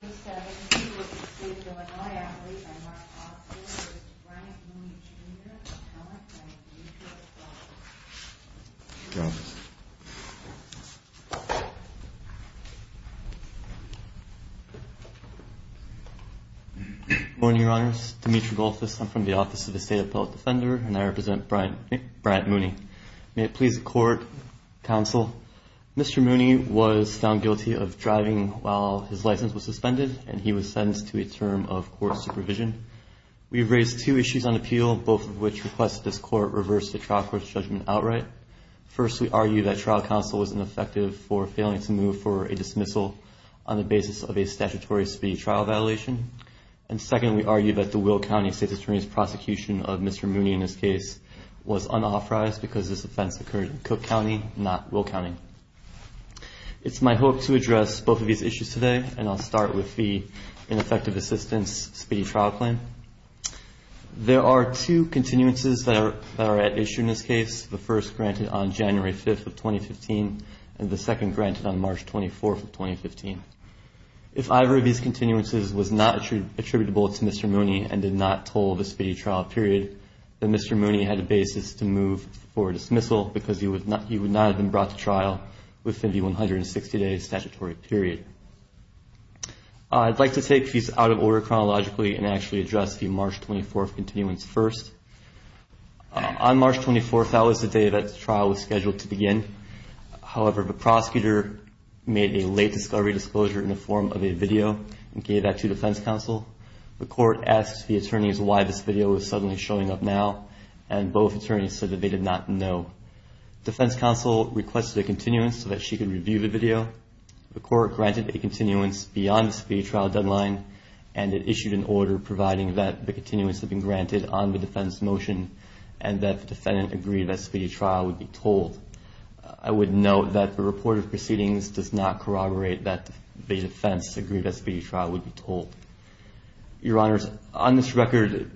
Good morning, your honors. Demetri Goldfuss. I'm from the Office of the State Appellate Defender and I represent Brad, Brad Mooney. May it please the court, counsel. Mr. Mooney was found guilty of driving while his license was suspended. And he was sentenced to a term of court supervision. We've raised two issues on appeal, both of which request this court reverse the trial court's judgment outright. First, we argue that trial counsel was ineffective for failing to move for a dismissal on the basis of a statutory speed trial violation. And second, we argue that the Will County state attorney's prosecution of Mr. Mooney in this case was unauthorized because this offense occurred in Cook County, not Will County. It's my hope to address both of these issues today, and I'll start with the ineffective assistance speed trial claim. There are two continuances that are at issue in this case, the first granted on January 5th of 2015 and the second granted on March 24th of 2015. If either of these continuances was not attributable to Mr. Mooney and did not toll the speedy trial period, then Mr. Mooney had a basis to move for dismissal because he would not have been brought to trial within the 160-day statutory period. I'd like to take these out of order chronologically and actually address the March 24th continuance first. On March 24th, that was the day that the trial was scheduled to begin. However, the prosecutor made a late discovery disclosure in the form of a video and gave that to defense counsel. The court asked the attorneys why this video was suddenly showing up now, and both attorneys said that they did not know. Defense counsel requested a continuance so that she could review the video. The court granted a continuance beyond the speedy trial deadline, and it issued an order providing that the continuance had been granted on the defense motion and that the defendant agreed that speedy trial would be tolled. I would note that the report of proceedings does not corroborate that the defense agreed that speedy trial would be tolled. Your Honors, on this record,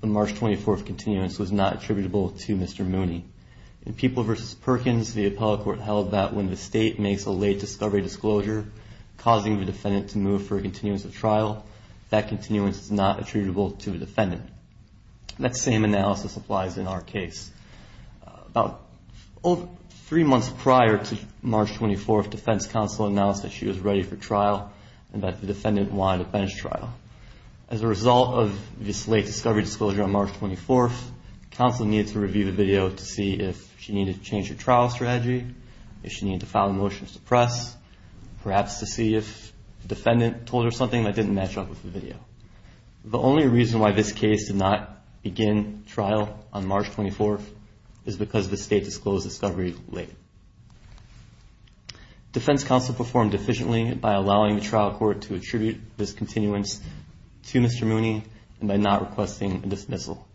the March 24th continuance was not attributable to Mr. Mooney. In People v. Perkins, the appellate court held that when the state makes a late discovery disclosure causing the defendant to move for a continuance of trial, that continuance is not attributable to the defendant. That same analysis applies in our case. About three months prior to March 24th, defense counsel announced that she was ready for trial and that the defendant wanted a bench trial. As a result of this late discovery disclosure on March 24th, counsel needed to review the video to see if she needed to change her trial strategy, if she needed to file a motion to suppress, perhaps to see if the defendant told her something that didn't match up with the video. The only reason why this case did not begin trial on March 24th is because the state disclosed the discovery late. Defense counsel performed efficiently by allowing the trial court to attribute this continuance to Mr. Mooney and by not requesting a dismissal.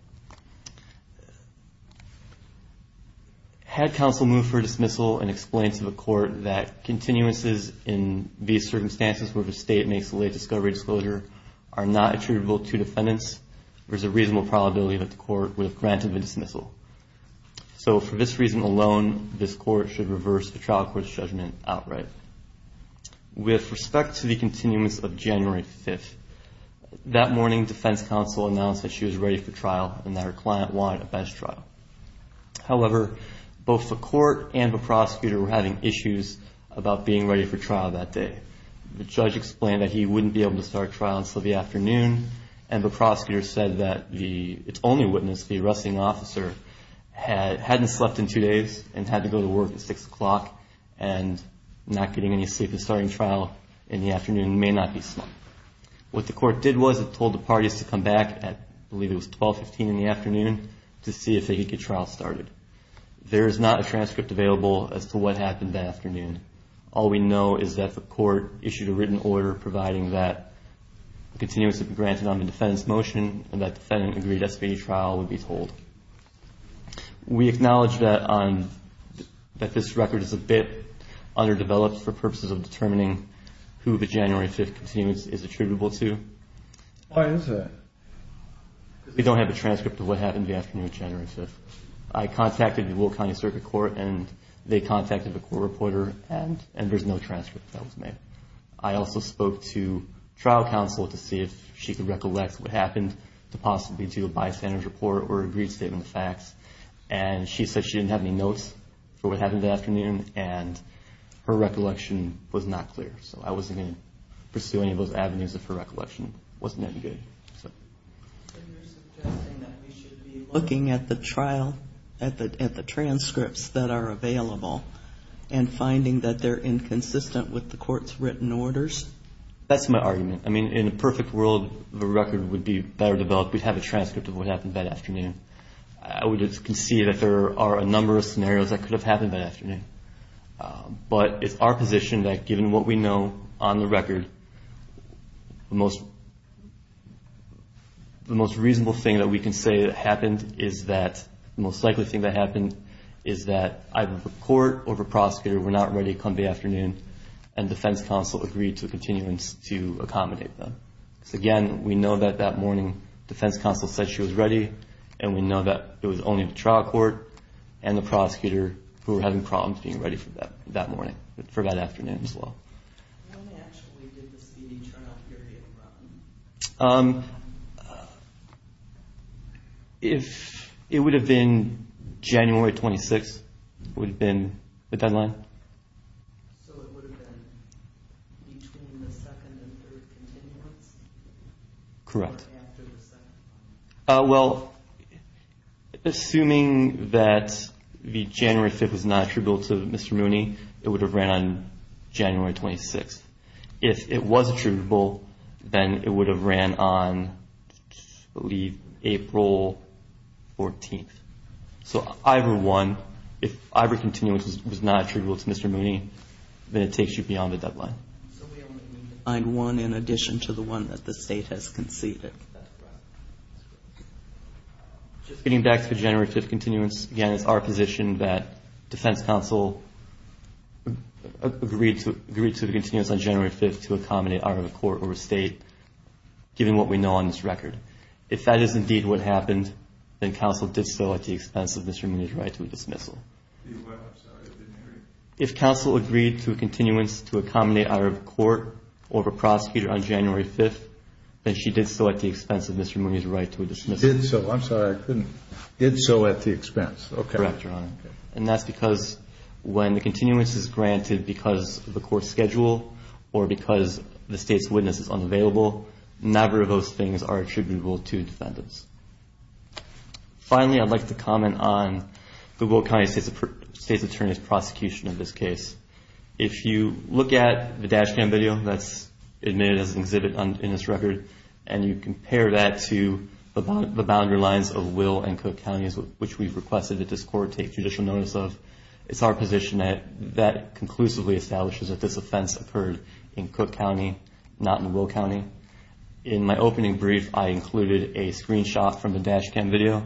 Had counsel moved for a dismissal and explained to the court that continuances in these circumstances where the state makes a late discovery disclosure are not attributable to defendants, there's a reasonable probability that the court would have granted the dismissal. So for this reason alone, this court should reverse the trial court's judgment outright. With respect to the continuance of January 5th, that morning defense counsel announced that she was ready for trial and that her client wanted a bench trial. However, both the court and the prosecutor were having issues about being ready for trial that day. The judge explained that he wouldn't be able to start trial until the afternoon and the prosecutor said that its only witness, the arresting officer, hadn't slept in two days and had to go to work at 6 o'clock and not getting any sleep in starting trial in the afternoon may not be smart. What the court did was it told the parties to come back at I believe it was 12, 15 in the afternoon to see if they could get trial started. There is not a transcript available as to what happened that afternoon. All we know is that the court issued a written order providing that continuance would be granted on the defendant's motion and that defendant agreed SBA trial would be told. We acknowledge that this record is a bit underdeveloped for purposes of determining who the January 5th continuance is attributable to. Why is that? We don't have a transcript of what happened that afternoon on January 5th. I contacted the Will County Circuit Court and they contacted the court reporter and there is no transcript that was made. I also spoke to trial counsel to see if she could recollect what happened to possibly do a bystander's report or agreed statement of facts and she said she didn't have any notes for what happened that afternoon and her recollection was not clear so I wasn't going to pursue any of those avenues if her recollection wasn't that good. So you're suggesting that we should be looking at the trial, at the transcripts that are available and finding that they're inconsistent with the court's written orders? That's my argument. I mean in a perfect world the record would be better developed. We'd have a transcript of what happened that afternoon. I would concede that there are a number of scenarios that could have happened that afternoon but it's our position that given what we know on the record the most reasonable thing that we can say that happened is that the most likely thing that happened is that either the court or the prosecutor were not ready to come that afternoon and defense counsel agreed to a continuance to accommodate them. Again, we know that that morning defense counsel said she was ready and we know that it was only the trial court and the prosecutor who were having problems being ready for that morning, for that afternoon as well. When actually did the speeding turnout period run? If it would have been January 26th would have been the deadline. So it would have been between the second and third continuance? Correct. Or after the second one? Well, assuming that the January 5th was not attributable to Mr. Mooney it would have ran on January 26th. If it was attributable then it would have ran on I believe April 14th. So either one, if either continuance was not attributable to Mr. Mooney then it takes you beyond the deadline. So we only need to find one in addition to the one that the State has conceded. Just getting back to the January 5th continuance, again it's our position that defense counsel agreed to a continuance on January 5th to accommodate either a court or a State, given what we know on this record. If that is indeed what happened then counsel did so at the expense of Mr. Mooney's right to a dismissal. If counsel agreed to a continuance to accommodate either a court or a prosecutor on January 5th then she did so at the expense of Mr. Mooney's right to a dismissal. Did so, I'm sorry I couldn't, did so at the expense. Correct, Your Honor. And that's because when the continuance is granted because of the court schedule or because the State's witness is unavailable, neither of those things are attributable to defendants. Finally, I'd like to comment on the Will County State's Attorney's prosecution of this case. If you look at the dash cam video that's admitted as an exhibit in this record and you compare that to the boundary lines of Will and Cook Counties, which we've requested that this court take judicial notice of, it's our position that that conclusively establishes that this offense occurred in Cook County, not in Will County. In my opening brief, I included a screenshot from the dash cam video.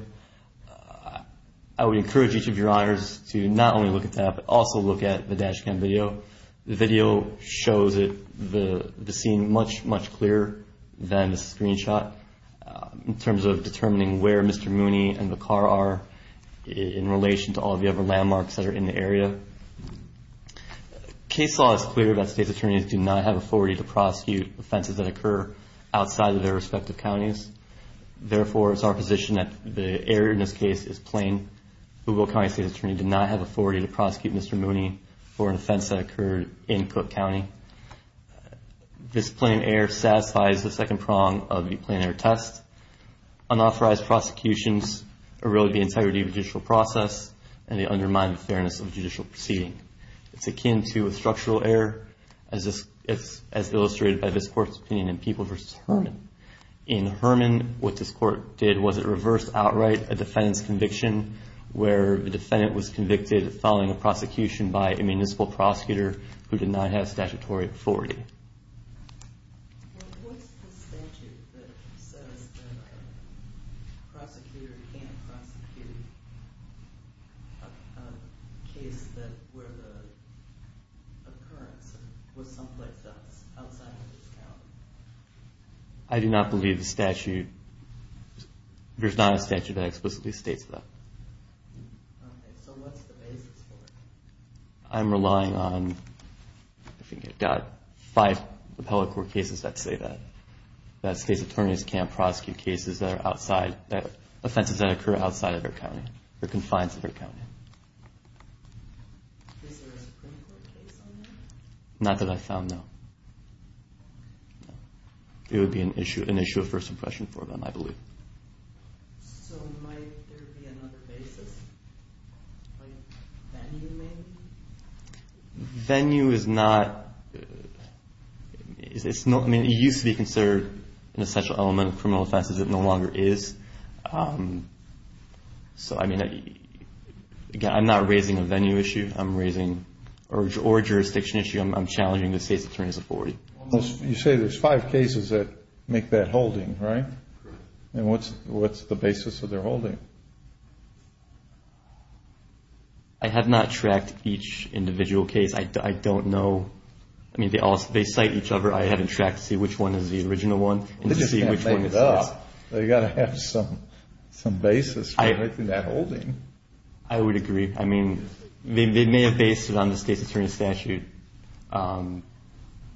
I would encourage each of your honors to not only look at that but also look at the dash cam video. The video shows it, the scene much, much clearer than the screenshot in terms of determining where Mr. Mooney and the car are in relation to all the other landmarks that are in the area. Case law is clear that State's Attorneys do not have authority to prosecute offenses that occur outside of their respective counties. Therefore, it's our position that the error in this case is plain. Will County State's Attorney did not have authority to prosecute Mr. Mooney for an offense that occurred in Cook County. This plain error satisfies the second prong of the plain error test. Unauthorized prosecutions are really the integrity of the judicial process and they undermine the fairness of judicial proceeding. It's akin to a structural error as illustrated by this court's opinion in Peoples v. Herman. In Herman, what this court did was it reversed outright a defendant's conviction where the defendant was convicted following a prosecution by a municipal prosecutor who did not have statutory authority. Prosecutor can't prosecute a case where the occurrence was someplace else outside of his county. I do not believe the statute, there's not a statute that explicitly states that. Okay, so what's the basis for it? I'm relying on, I think I've got five appellate court cases that say that. That state's attorneys can't prosecute cases that are outside, offenses that occur outside of their county, or confines of their county. Is there a Supreme Court case on that? Not that I found, no. It would be an issue of first impression for them, I believe. So might there be another basis, like venue maybe? Venue is not, I mean, it used to be considered an essential element of criminal offenses. It no longer is. So, I mean, again, I'm not raising a venue issue. I'm raising, or a jurisdiction issue, I'm challenging the state's attorneys' authority. You say there's five cases that make that holding, right? And what's the basis of their holding? I have not tracked each individual case. I don't know. I mean, they cite each other. I haven't tracked to see which one is the original one. They just can't make it up. They've got to have some basis for making that holding. I would agree. I mean, they may have based it on the state's attorney's statute.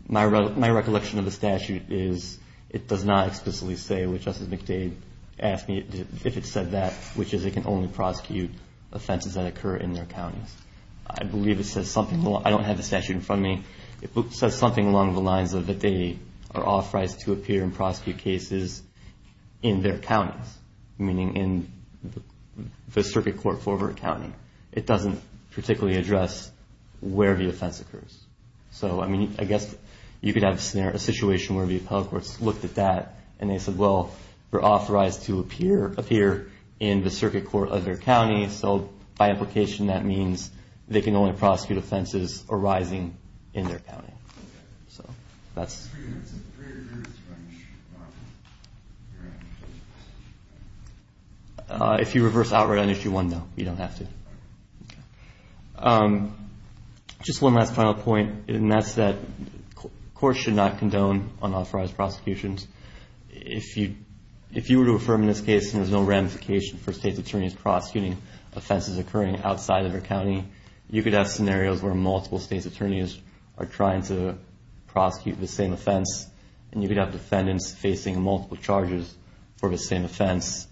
My recollection of the statute is it does not explicitly say, which Justice McDade asked me if it said that, which is it can only prosecute offenses that occur in their counties. I believe it says something. I don't have the statute in front of me. It says something along the lines of that they are authorized to appear and prosecute cases in their counties, meaning in the circuit court for a county. It doesn't particularly address where the offense occurs. So, I mean, I guess you could have a situation where the appellate courts looked at that and they said, well, they're authorized to appear in the circuit court of their county. So, by implication, that means they can only prosecute offenses arising in their county. So, that's it. If you reverse outright on Issue 1, no, you don't have to. Just one last final point, and that's that courts should not condone unauthorized prosecutions. If you were to affirm in this case there's no ramification for state's attorneys prosecuting offenses occurring outside of their county, you could have scenarios where multiple state's attorneys are trying to prosecute the same offense, and you could have defendants facing multiple charges for the same offense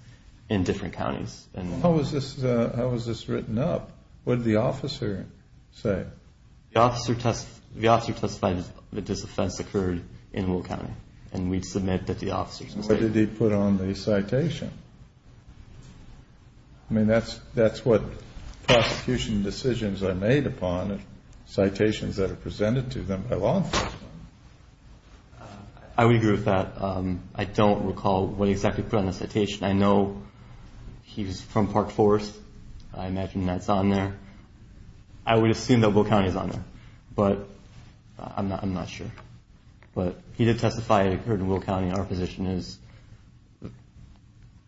in different counties. How was this written up? What did the officer say? The officer testified that this offense occurred in Will County, and we'd submit that the officer testified. What did he put on the citation? I mean, that's what prosecution decisions are made upon, citations that are presented to them by law enforcement. I would agree with that. I don't recall what exactly he put on the citation. I know he was from Park Forest. I imagine that's on there. I would assume that Will County is on there, but I'm not sure. But he did testify it occurred in Will County. Our position is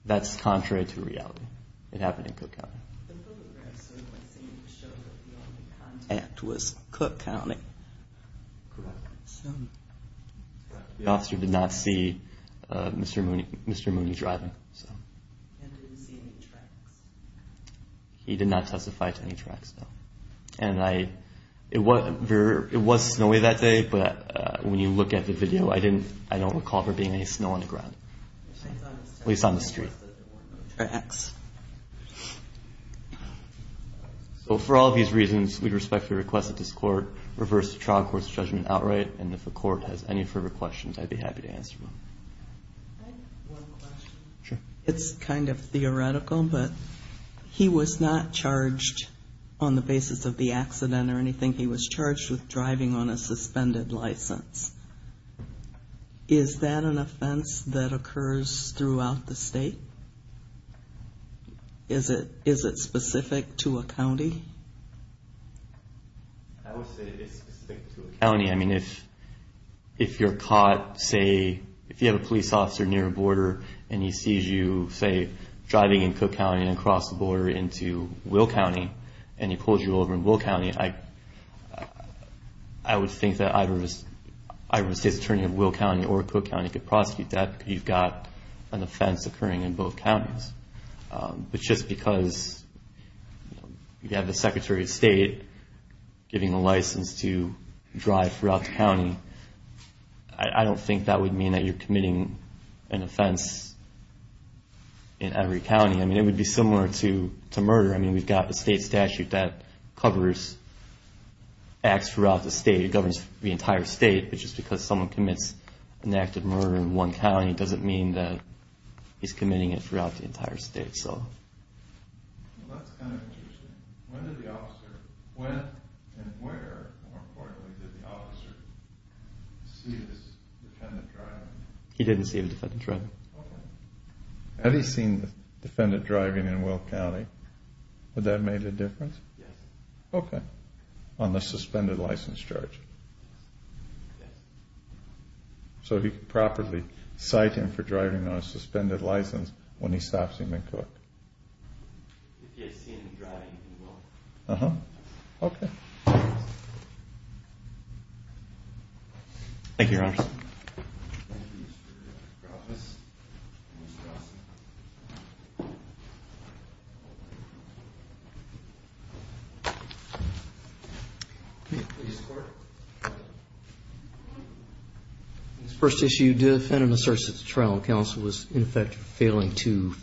that's contrary to reality. It happened in Cook County. The photograph certainly seemed to show that the only contact was Cook County. Correct. Snowy. The officer did not see Mr. Mooney driving. And didn't see any tracks. He did not testify to any tracks, no. And it was snowy that day, but when you look at the video, I don't recall there being any snow on the ground. At least on the street. Tracks. So for all of these reasons, we'd respect your request that this court reverse the trial court's judgment outright, and if the court has any further questions, I'd be happy to answer them. Can I ask one question? Sure. It's kind of theoretical, but he was not charged on the basis of the accident or anything. He was charged with driving on a suspended license. Is that an offense that occurs throughout the state? Is it specific to a county? I mean, if you're caught, say, if you have a police officer near a border and he sees you, say, driving in Cook County and across the border into Will County, and he pulls you over in Will County, I would think that either the state's attorney of Will County or Cook County could prosecute that because you've got an offense occurring in both counties. But just because you have the Secretary of State giving a license to drive throughout the county, I don't think that would mean that you're committing an offense in every county. I mean, it would be similar to murder. I mean, we've got a state statute that covers acts throughout the state. It governs the entire state, but just because someone commits an act of murder in one county doesn't mean that he's committing it throughout the entire state. Well, that's kind of interesting. When and where, more importantly, did the officer see this defendant driving? He didn't see the defendant driving. Okay. Had he seen the defendant driving in Will County, would that have made a difference? Yes. Okay. On the suspended license charge. Yes. So he could properly cite him for driving on a suspended license when he stops him in Cook. If he had seen him driving in Will. Uh-huh. Thank you, Your Honor. Thank you, Mr. Crawford. Mr. Dawson. Please report. This first issue, defendant asserts that the trial counsel was, in effect, failing to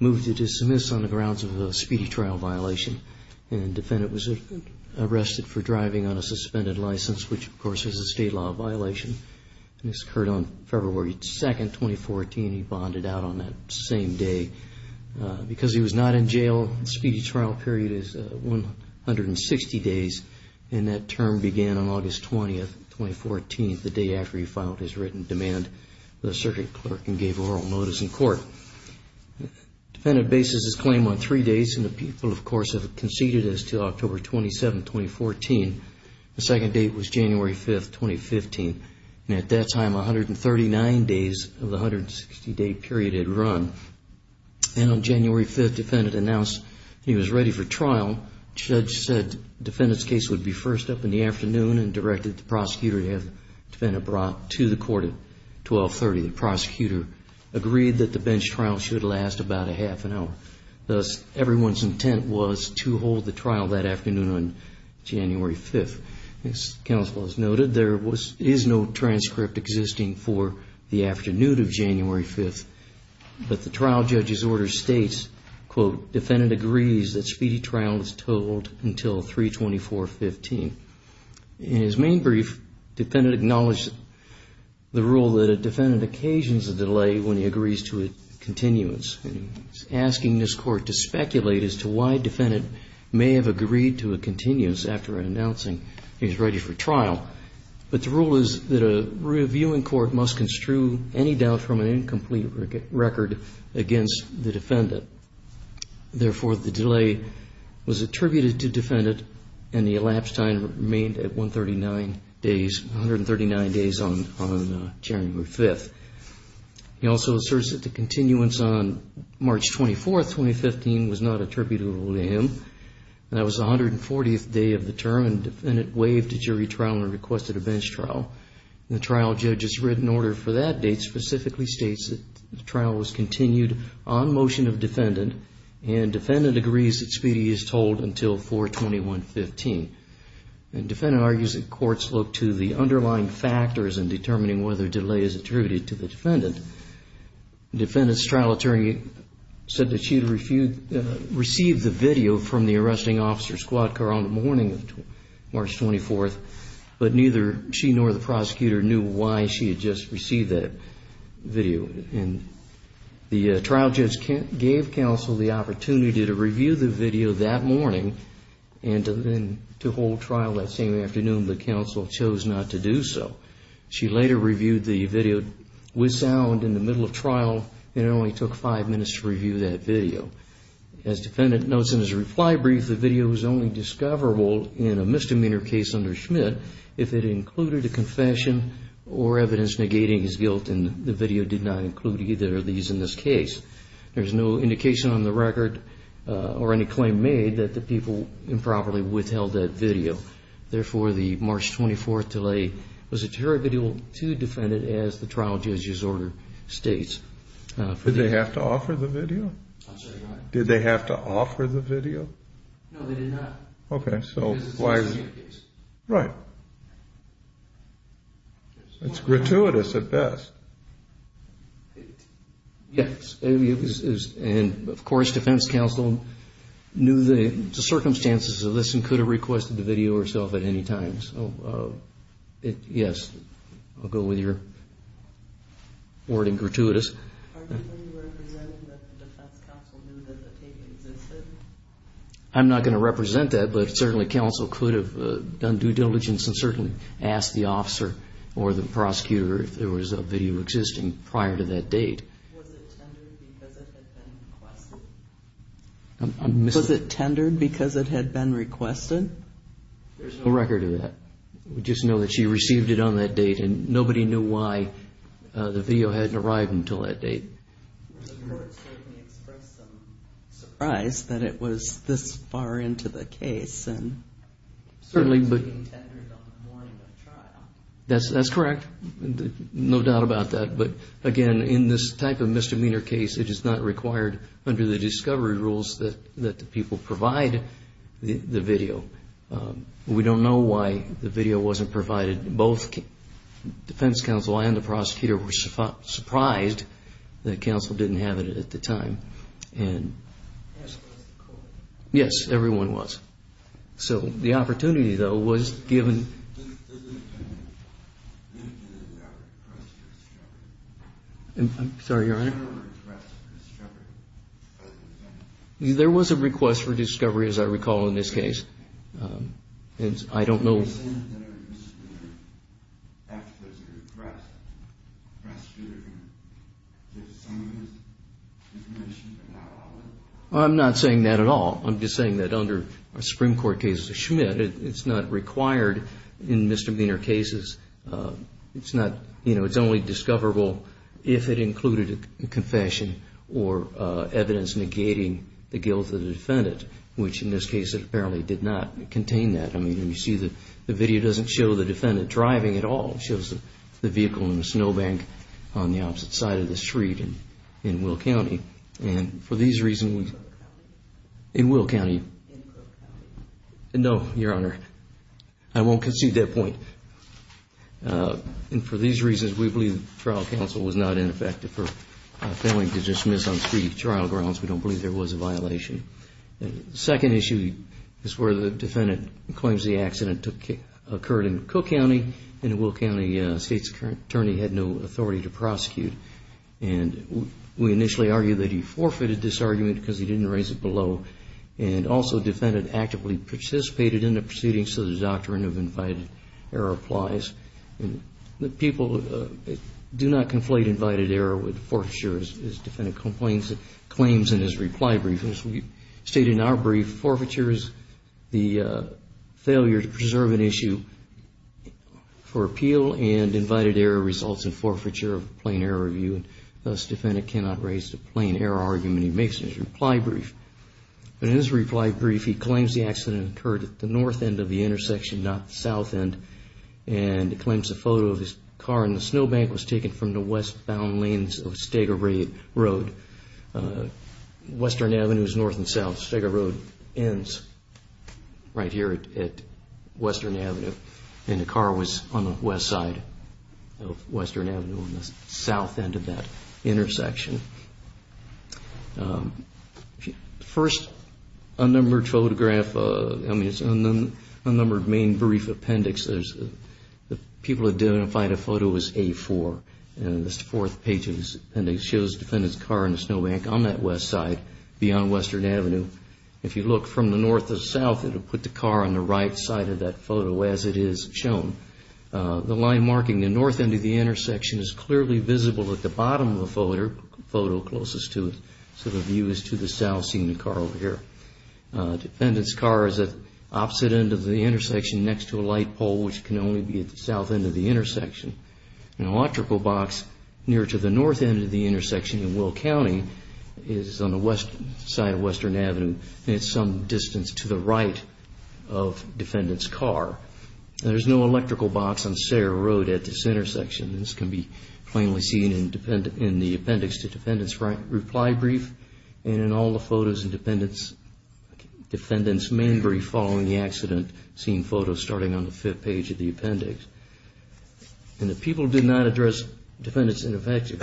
move to dismiss on the grounds of a speedy trial violation, and defendant was arrested for driving on a suspended license, which, of course, is a state law violation. This occurred on February 2nd, 2014. He bonded out on that same day. Because he was not in jail, the speedy trial period is 160 days, and that term began on August 20th, 2014, the day after he filed his written demand for the circuit clerk and gave oral notice in court. Defendant bases his claim on three days, and the people, of course, have conceded as to October 27th, 2014. The second date was January 5th, 2015, and at that time 139 days of the 160-day period had run. And on January 5th, defendant announced he was ready for trial. Judge said defendant's case would be first up in the afternoon and directed the prosecutor to have the defendant brought to the court at 1230. The prosecutor agreed that the bench trial should last about a half an hour. Thus, everyone's intent was to hold the trial that afternoon on January 5th. As counsel has noted, there is no transcript existing for the afternoon of January 5th, but the trial judge's order states, quote, defendant agrees that speedy trial is totaled until 324.15. In his main brief, defendant acknowledged the rule that a defendant occasions a delay when he agrees to a continuance. And he's asking this Court to speculate as to why defendant may have agreed to a continuance after announcing he was ready for trial. But the rule is that a reviewing court must construe any doubt from an incomplete record against the defendant. Therefore, the delay was attributed to defendant, and the elapsed time remained at 139 days, 139 days on January 5th. He also asserts that the continuance on March 24th, 2015, was not attributable to him. That was the 140th day of the term, and defendant waived the jury trial and requested a bench trial. The trial judge's written order for that date specifically states that the trial was continued on motion of defendant, and defendant agrees that speedy is told until 421.15. And defendant argues that courts look to the underlying factors in determining whether delay is attributed to the defendant. Defendant's trial attorney said that she had received the video from the arresting officer, Squadcar, on the morning of March 24th, but neither she nor the prosecutor knew why she had just received that video. And the trial judge gave counsel the opportunity to review the video that morning and to hold trial that same afternoon, but counsel chose not to do so. She later reviewed the video with sound in the middle of trial, and it only took five minutes to review that video. As defendant notes in his reply brief, the video was only discoverable in a misdemeanor case under Schmidt if it included a confession or evidence negating his guilt, and the video did not include either of these in this case. There is no indication on the record or any claim made that the people improperly withheld that video. Therefore, the March 24th delay was attributable to the defendant as the trial judge's order states. Did they have to offer the video? I'm sorry, what? Did they have to offer the video? No, they did not. Okay, so why? Because it's the same case. Right. It's gratuitous at best. Yes, and of course, defense counsel knew the circumstances of this and could have requested the video herself at any time. So, yes, I'll go with your wording, gratuitous. Are you representing that the defense counsel knew that the tape existed? I'm not going to represent that, but certainly counsel could have done due diligence and certainly asked the officer or the prosecutor if there was a video existing prior to that date. Was it tendered because it had been requested? Was it tendered because it had been requested? There's no record of that. We just know that she received it on that date and nobody knew why the video hadn't arrived until that date. The court certainly expressed some surprise that it was this far into the case and certainly was being tendered on the morning of trial. That's correct. No doubt about that. But, again, in this type of misdemeanor case, it is not required under the discovery rules that the people provide the video. We don't know why the video wasn't provided. Both defense counsel and the prosecutor were surprised that counsel didn't have it at the time. Yes, everyone was. So the opportunity, though, was given. I'm sorry, Your Honor. There was a request for discovery, as I recall, in this case. I don't know. I'm not saying that at all. I'm just saying that under a Supreme Court case of Schmidt, it's not required in misdemeanor cases. It's only discoverable if it included a confession or evidence negating the guilt of the defendant, which in this case it apparently did not contain that. I mean, you see the video doesn't show the defendant driving at all. It shows the vehicle in the snowbank on the opposite side of the street in Will County. In Cook County? In Will County. In Cook County. No, Your Honor. I won't concede that point. And for these reasons, we believe the trial counsel was not ineffective for failing to dismiss on street trial grounds. We don't believe there was a violation. The second issue is where the defendant claims the accident occurred in Cook County, and in Will County, the state's current attorney had no authority to prosecute. And we initially argued that he forfeited this argument because he didn't raise it below. And also, the defendant actively participated in the proceedings so the doctrine of invited error applies. People do not conflate invited error with forfeiture, as the defendant claims in his reply brief. As we state in our brief, forfeiture is the failure to preserve an issue for appeal, and invited error results in forfeiture of a plain error review, and thus, the defendant cannot raise the plain error argument he makes in his reply brief. In his reply brief, he claims the accident occurred at the north end of the intersection, not the south end, and he claims a photo of his car in the snowbank was taken from the westbound lanes of Stagger Road. Western Avenue is north and south. Stagger Road ends right here at Western Avenue, and the car was on the west side of Western Avenue on the south end of that intersection. The first unnumbered photograph, I mean, it's an unnumbered main brief appendix. People identified a photo as A4, and it's the fourth page of this appendix. It shows the defendant's car in the snowbank on that west side beyond Western Avenue. If you look from the north to south, it will put the car on the right side of that photo, as it is shown. The line marking the north end of the intersection is clearly visible at the bottom of the photo closest to it, so the view is to the south, seeing the car over here. The defendant's car is at the opposite end of the intersection next to a light pole, which can only be at the south end of the intersection. An electrical box near to the north end of the intersection in Will County is on the west side of Western Avenue, and it's some distance to the right of the defendant's car. There's no electrical box on Stagger Road at this intersection. This can be plainly seen in the appendix to the defendant's reply brief and in all the photos of the defendant's main brief following the accident, seeing photos starting on the fifth page of the appendix. And the people did not address defendants' ineffective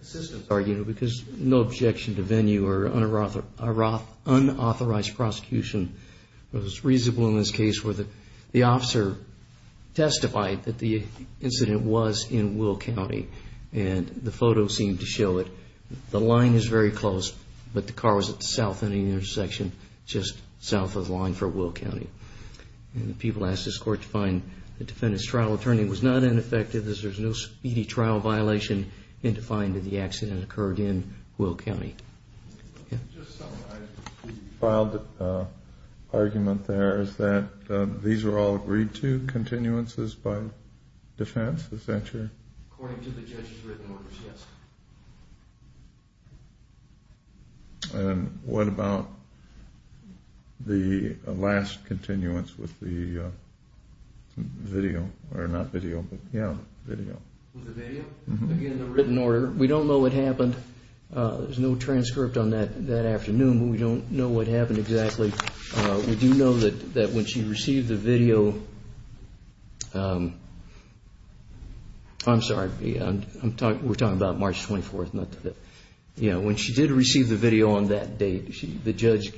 assistance argument because no objection to venue or unauthorized prosecution was reasonable in this case where the officer testified that the incident was in Will County, and the photo seemed to show it. The line is very close, but the car was at the south end of the intersection, just south of the line for Will County. And the people asked this court to find the defendant's trial attorney was not ineffective as there's no speedy trial violation in defying that the accident occurred in Will County. Yeah? The filed argument there is that these are all agreed-to continuances by defense. Is that true? According to the judge's written orders, yes. And what about the last continuance with the video? Or not video, but yeah, video. With the video? Again, the written order. We don't know what happened. There's no transcript on that afternoon, but we don't know what happened exactly. We do know that when she received the video, I'm sorry, we're talking about March 24th, not today. When she did receive the video on that date, the judge,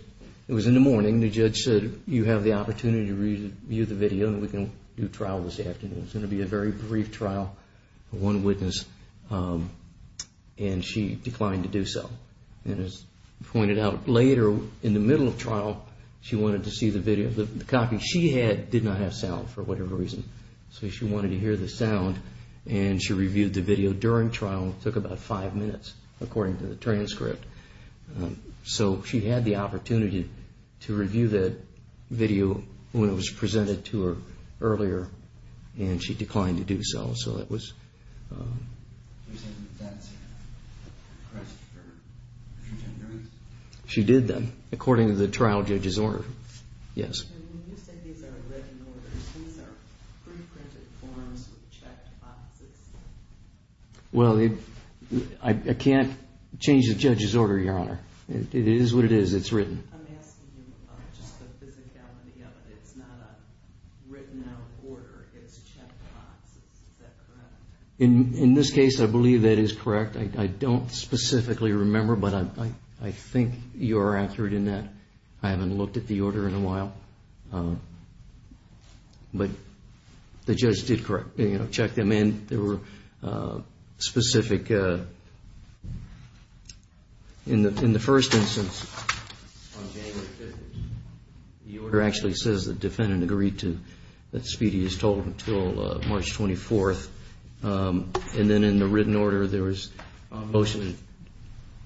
it was in the morning, the judge said, you have the opportunity to review the video and we can do trial this afternoon. It's going to be a very brief trial, one witness. And she declined to do so. And as pointed out, later in the middle of trial, she wanted to see the video. The copy she had did not have sound for whatever reason. So she wanted to hear the sound and she reviewed the video during trial. It took about five minutes according to the transcript. So she had the opportunity to review that video when it was presented to her earlier and she declined to do so. So that was... She did that according to the trial judge's order. Yes. Well, I can't change the judge's order, Your Honor. It is what it is. It's written. In this case, I believe that is correct. I don't specifically remember, but I think you are accurate in that. I haven't looked at the order in a while. But the judge did check them in. There were specific... In the first instance, on January 15th, the order actually says the defendant agreed to that Speedy is told until March 24th. And then in the written order, there was a motion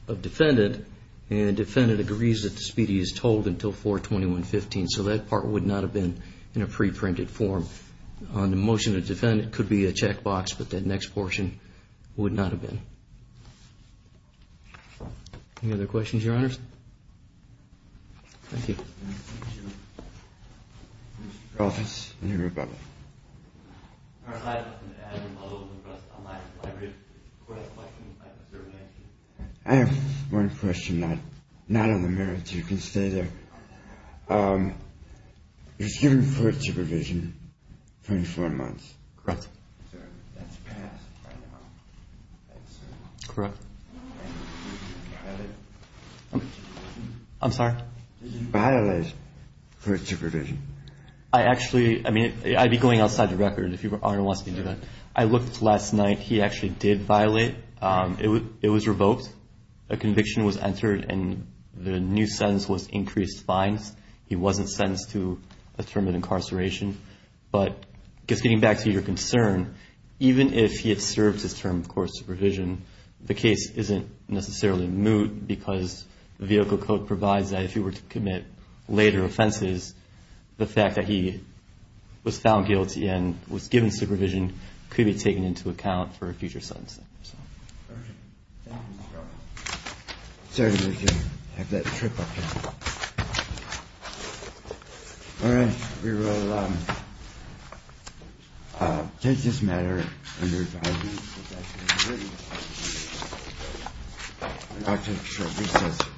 of defendant and the defendant agrees that Speedy is told until 4-21-15. So that part would not have been in a pre-printed form. The motion of defendant could be a checkbox, but that next portion would not have been. Thank you. Any other questions, Your Honors? Thank you. I have one question, not on the merits. You can stay there. You're given court supervision for 24 months. Correct? Correct. I'm sorry? Did you violate court supervision? I actually, I mean, I'd be going outside the record if you wanted me to do that. I looked last night. He actually did violate. It was revoked. A conviction was entered, and the new sentence was increased fines. He wasn't sentenced to a term of incarceration. But just getting back to your concern, even if he had served his term of court supervision, the case isn't necessarily moot because the vehicle code provides that if he were to commit later offenses, the fact that he was found guilty and was given supervision could be taken into account for a future sentence. Sorry to make you have that trip up here. All right. We will take this matter under advisory session. Thank you.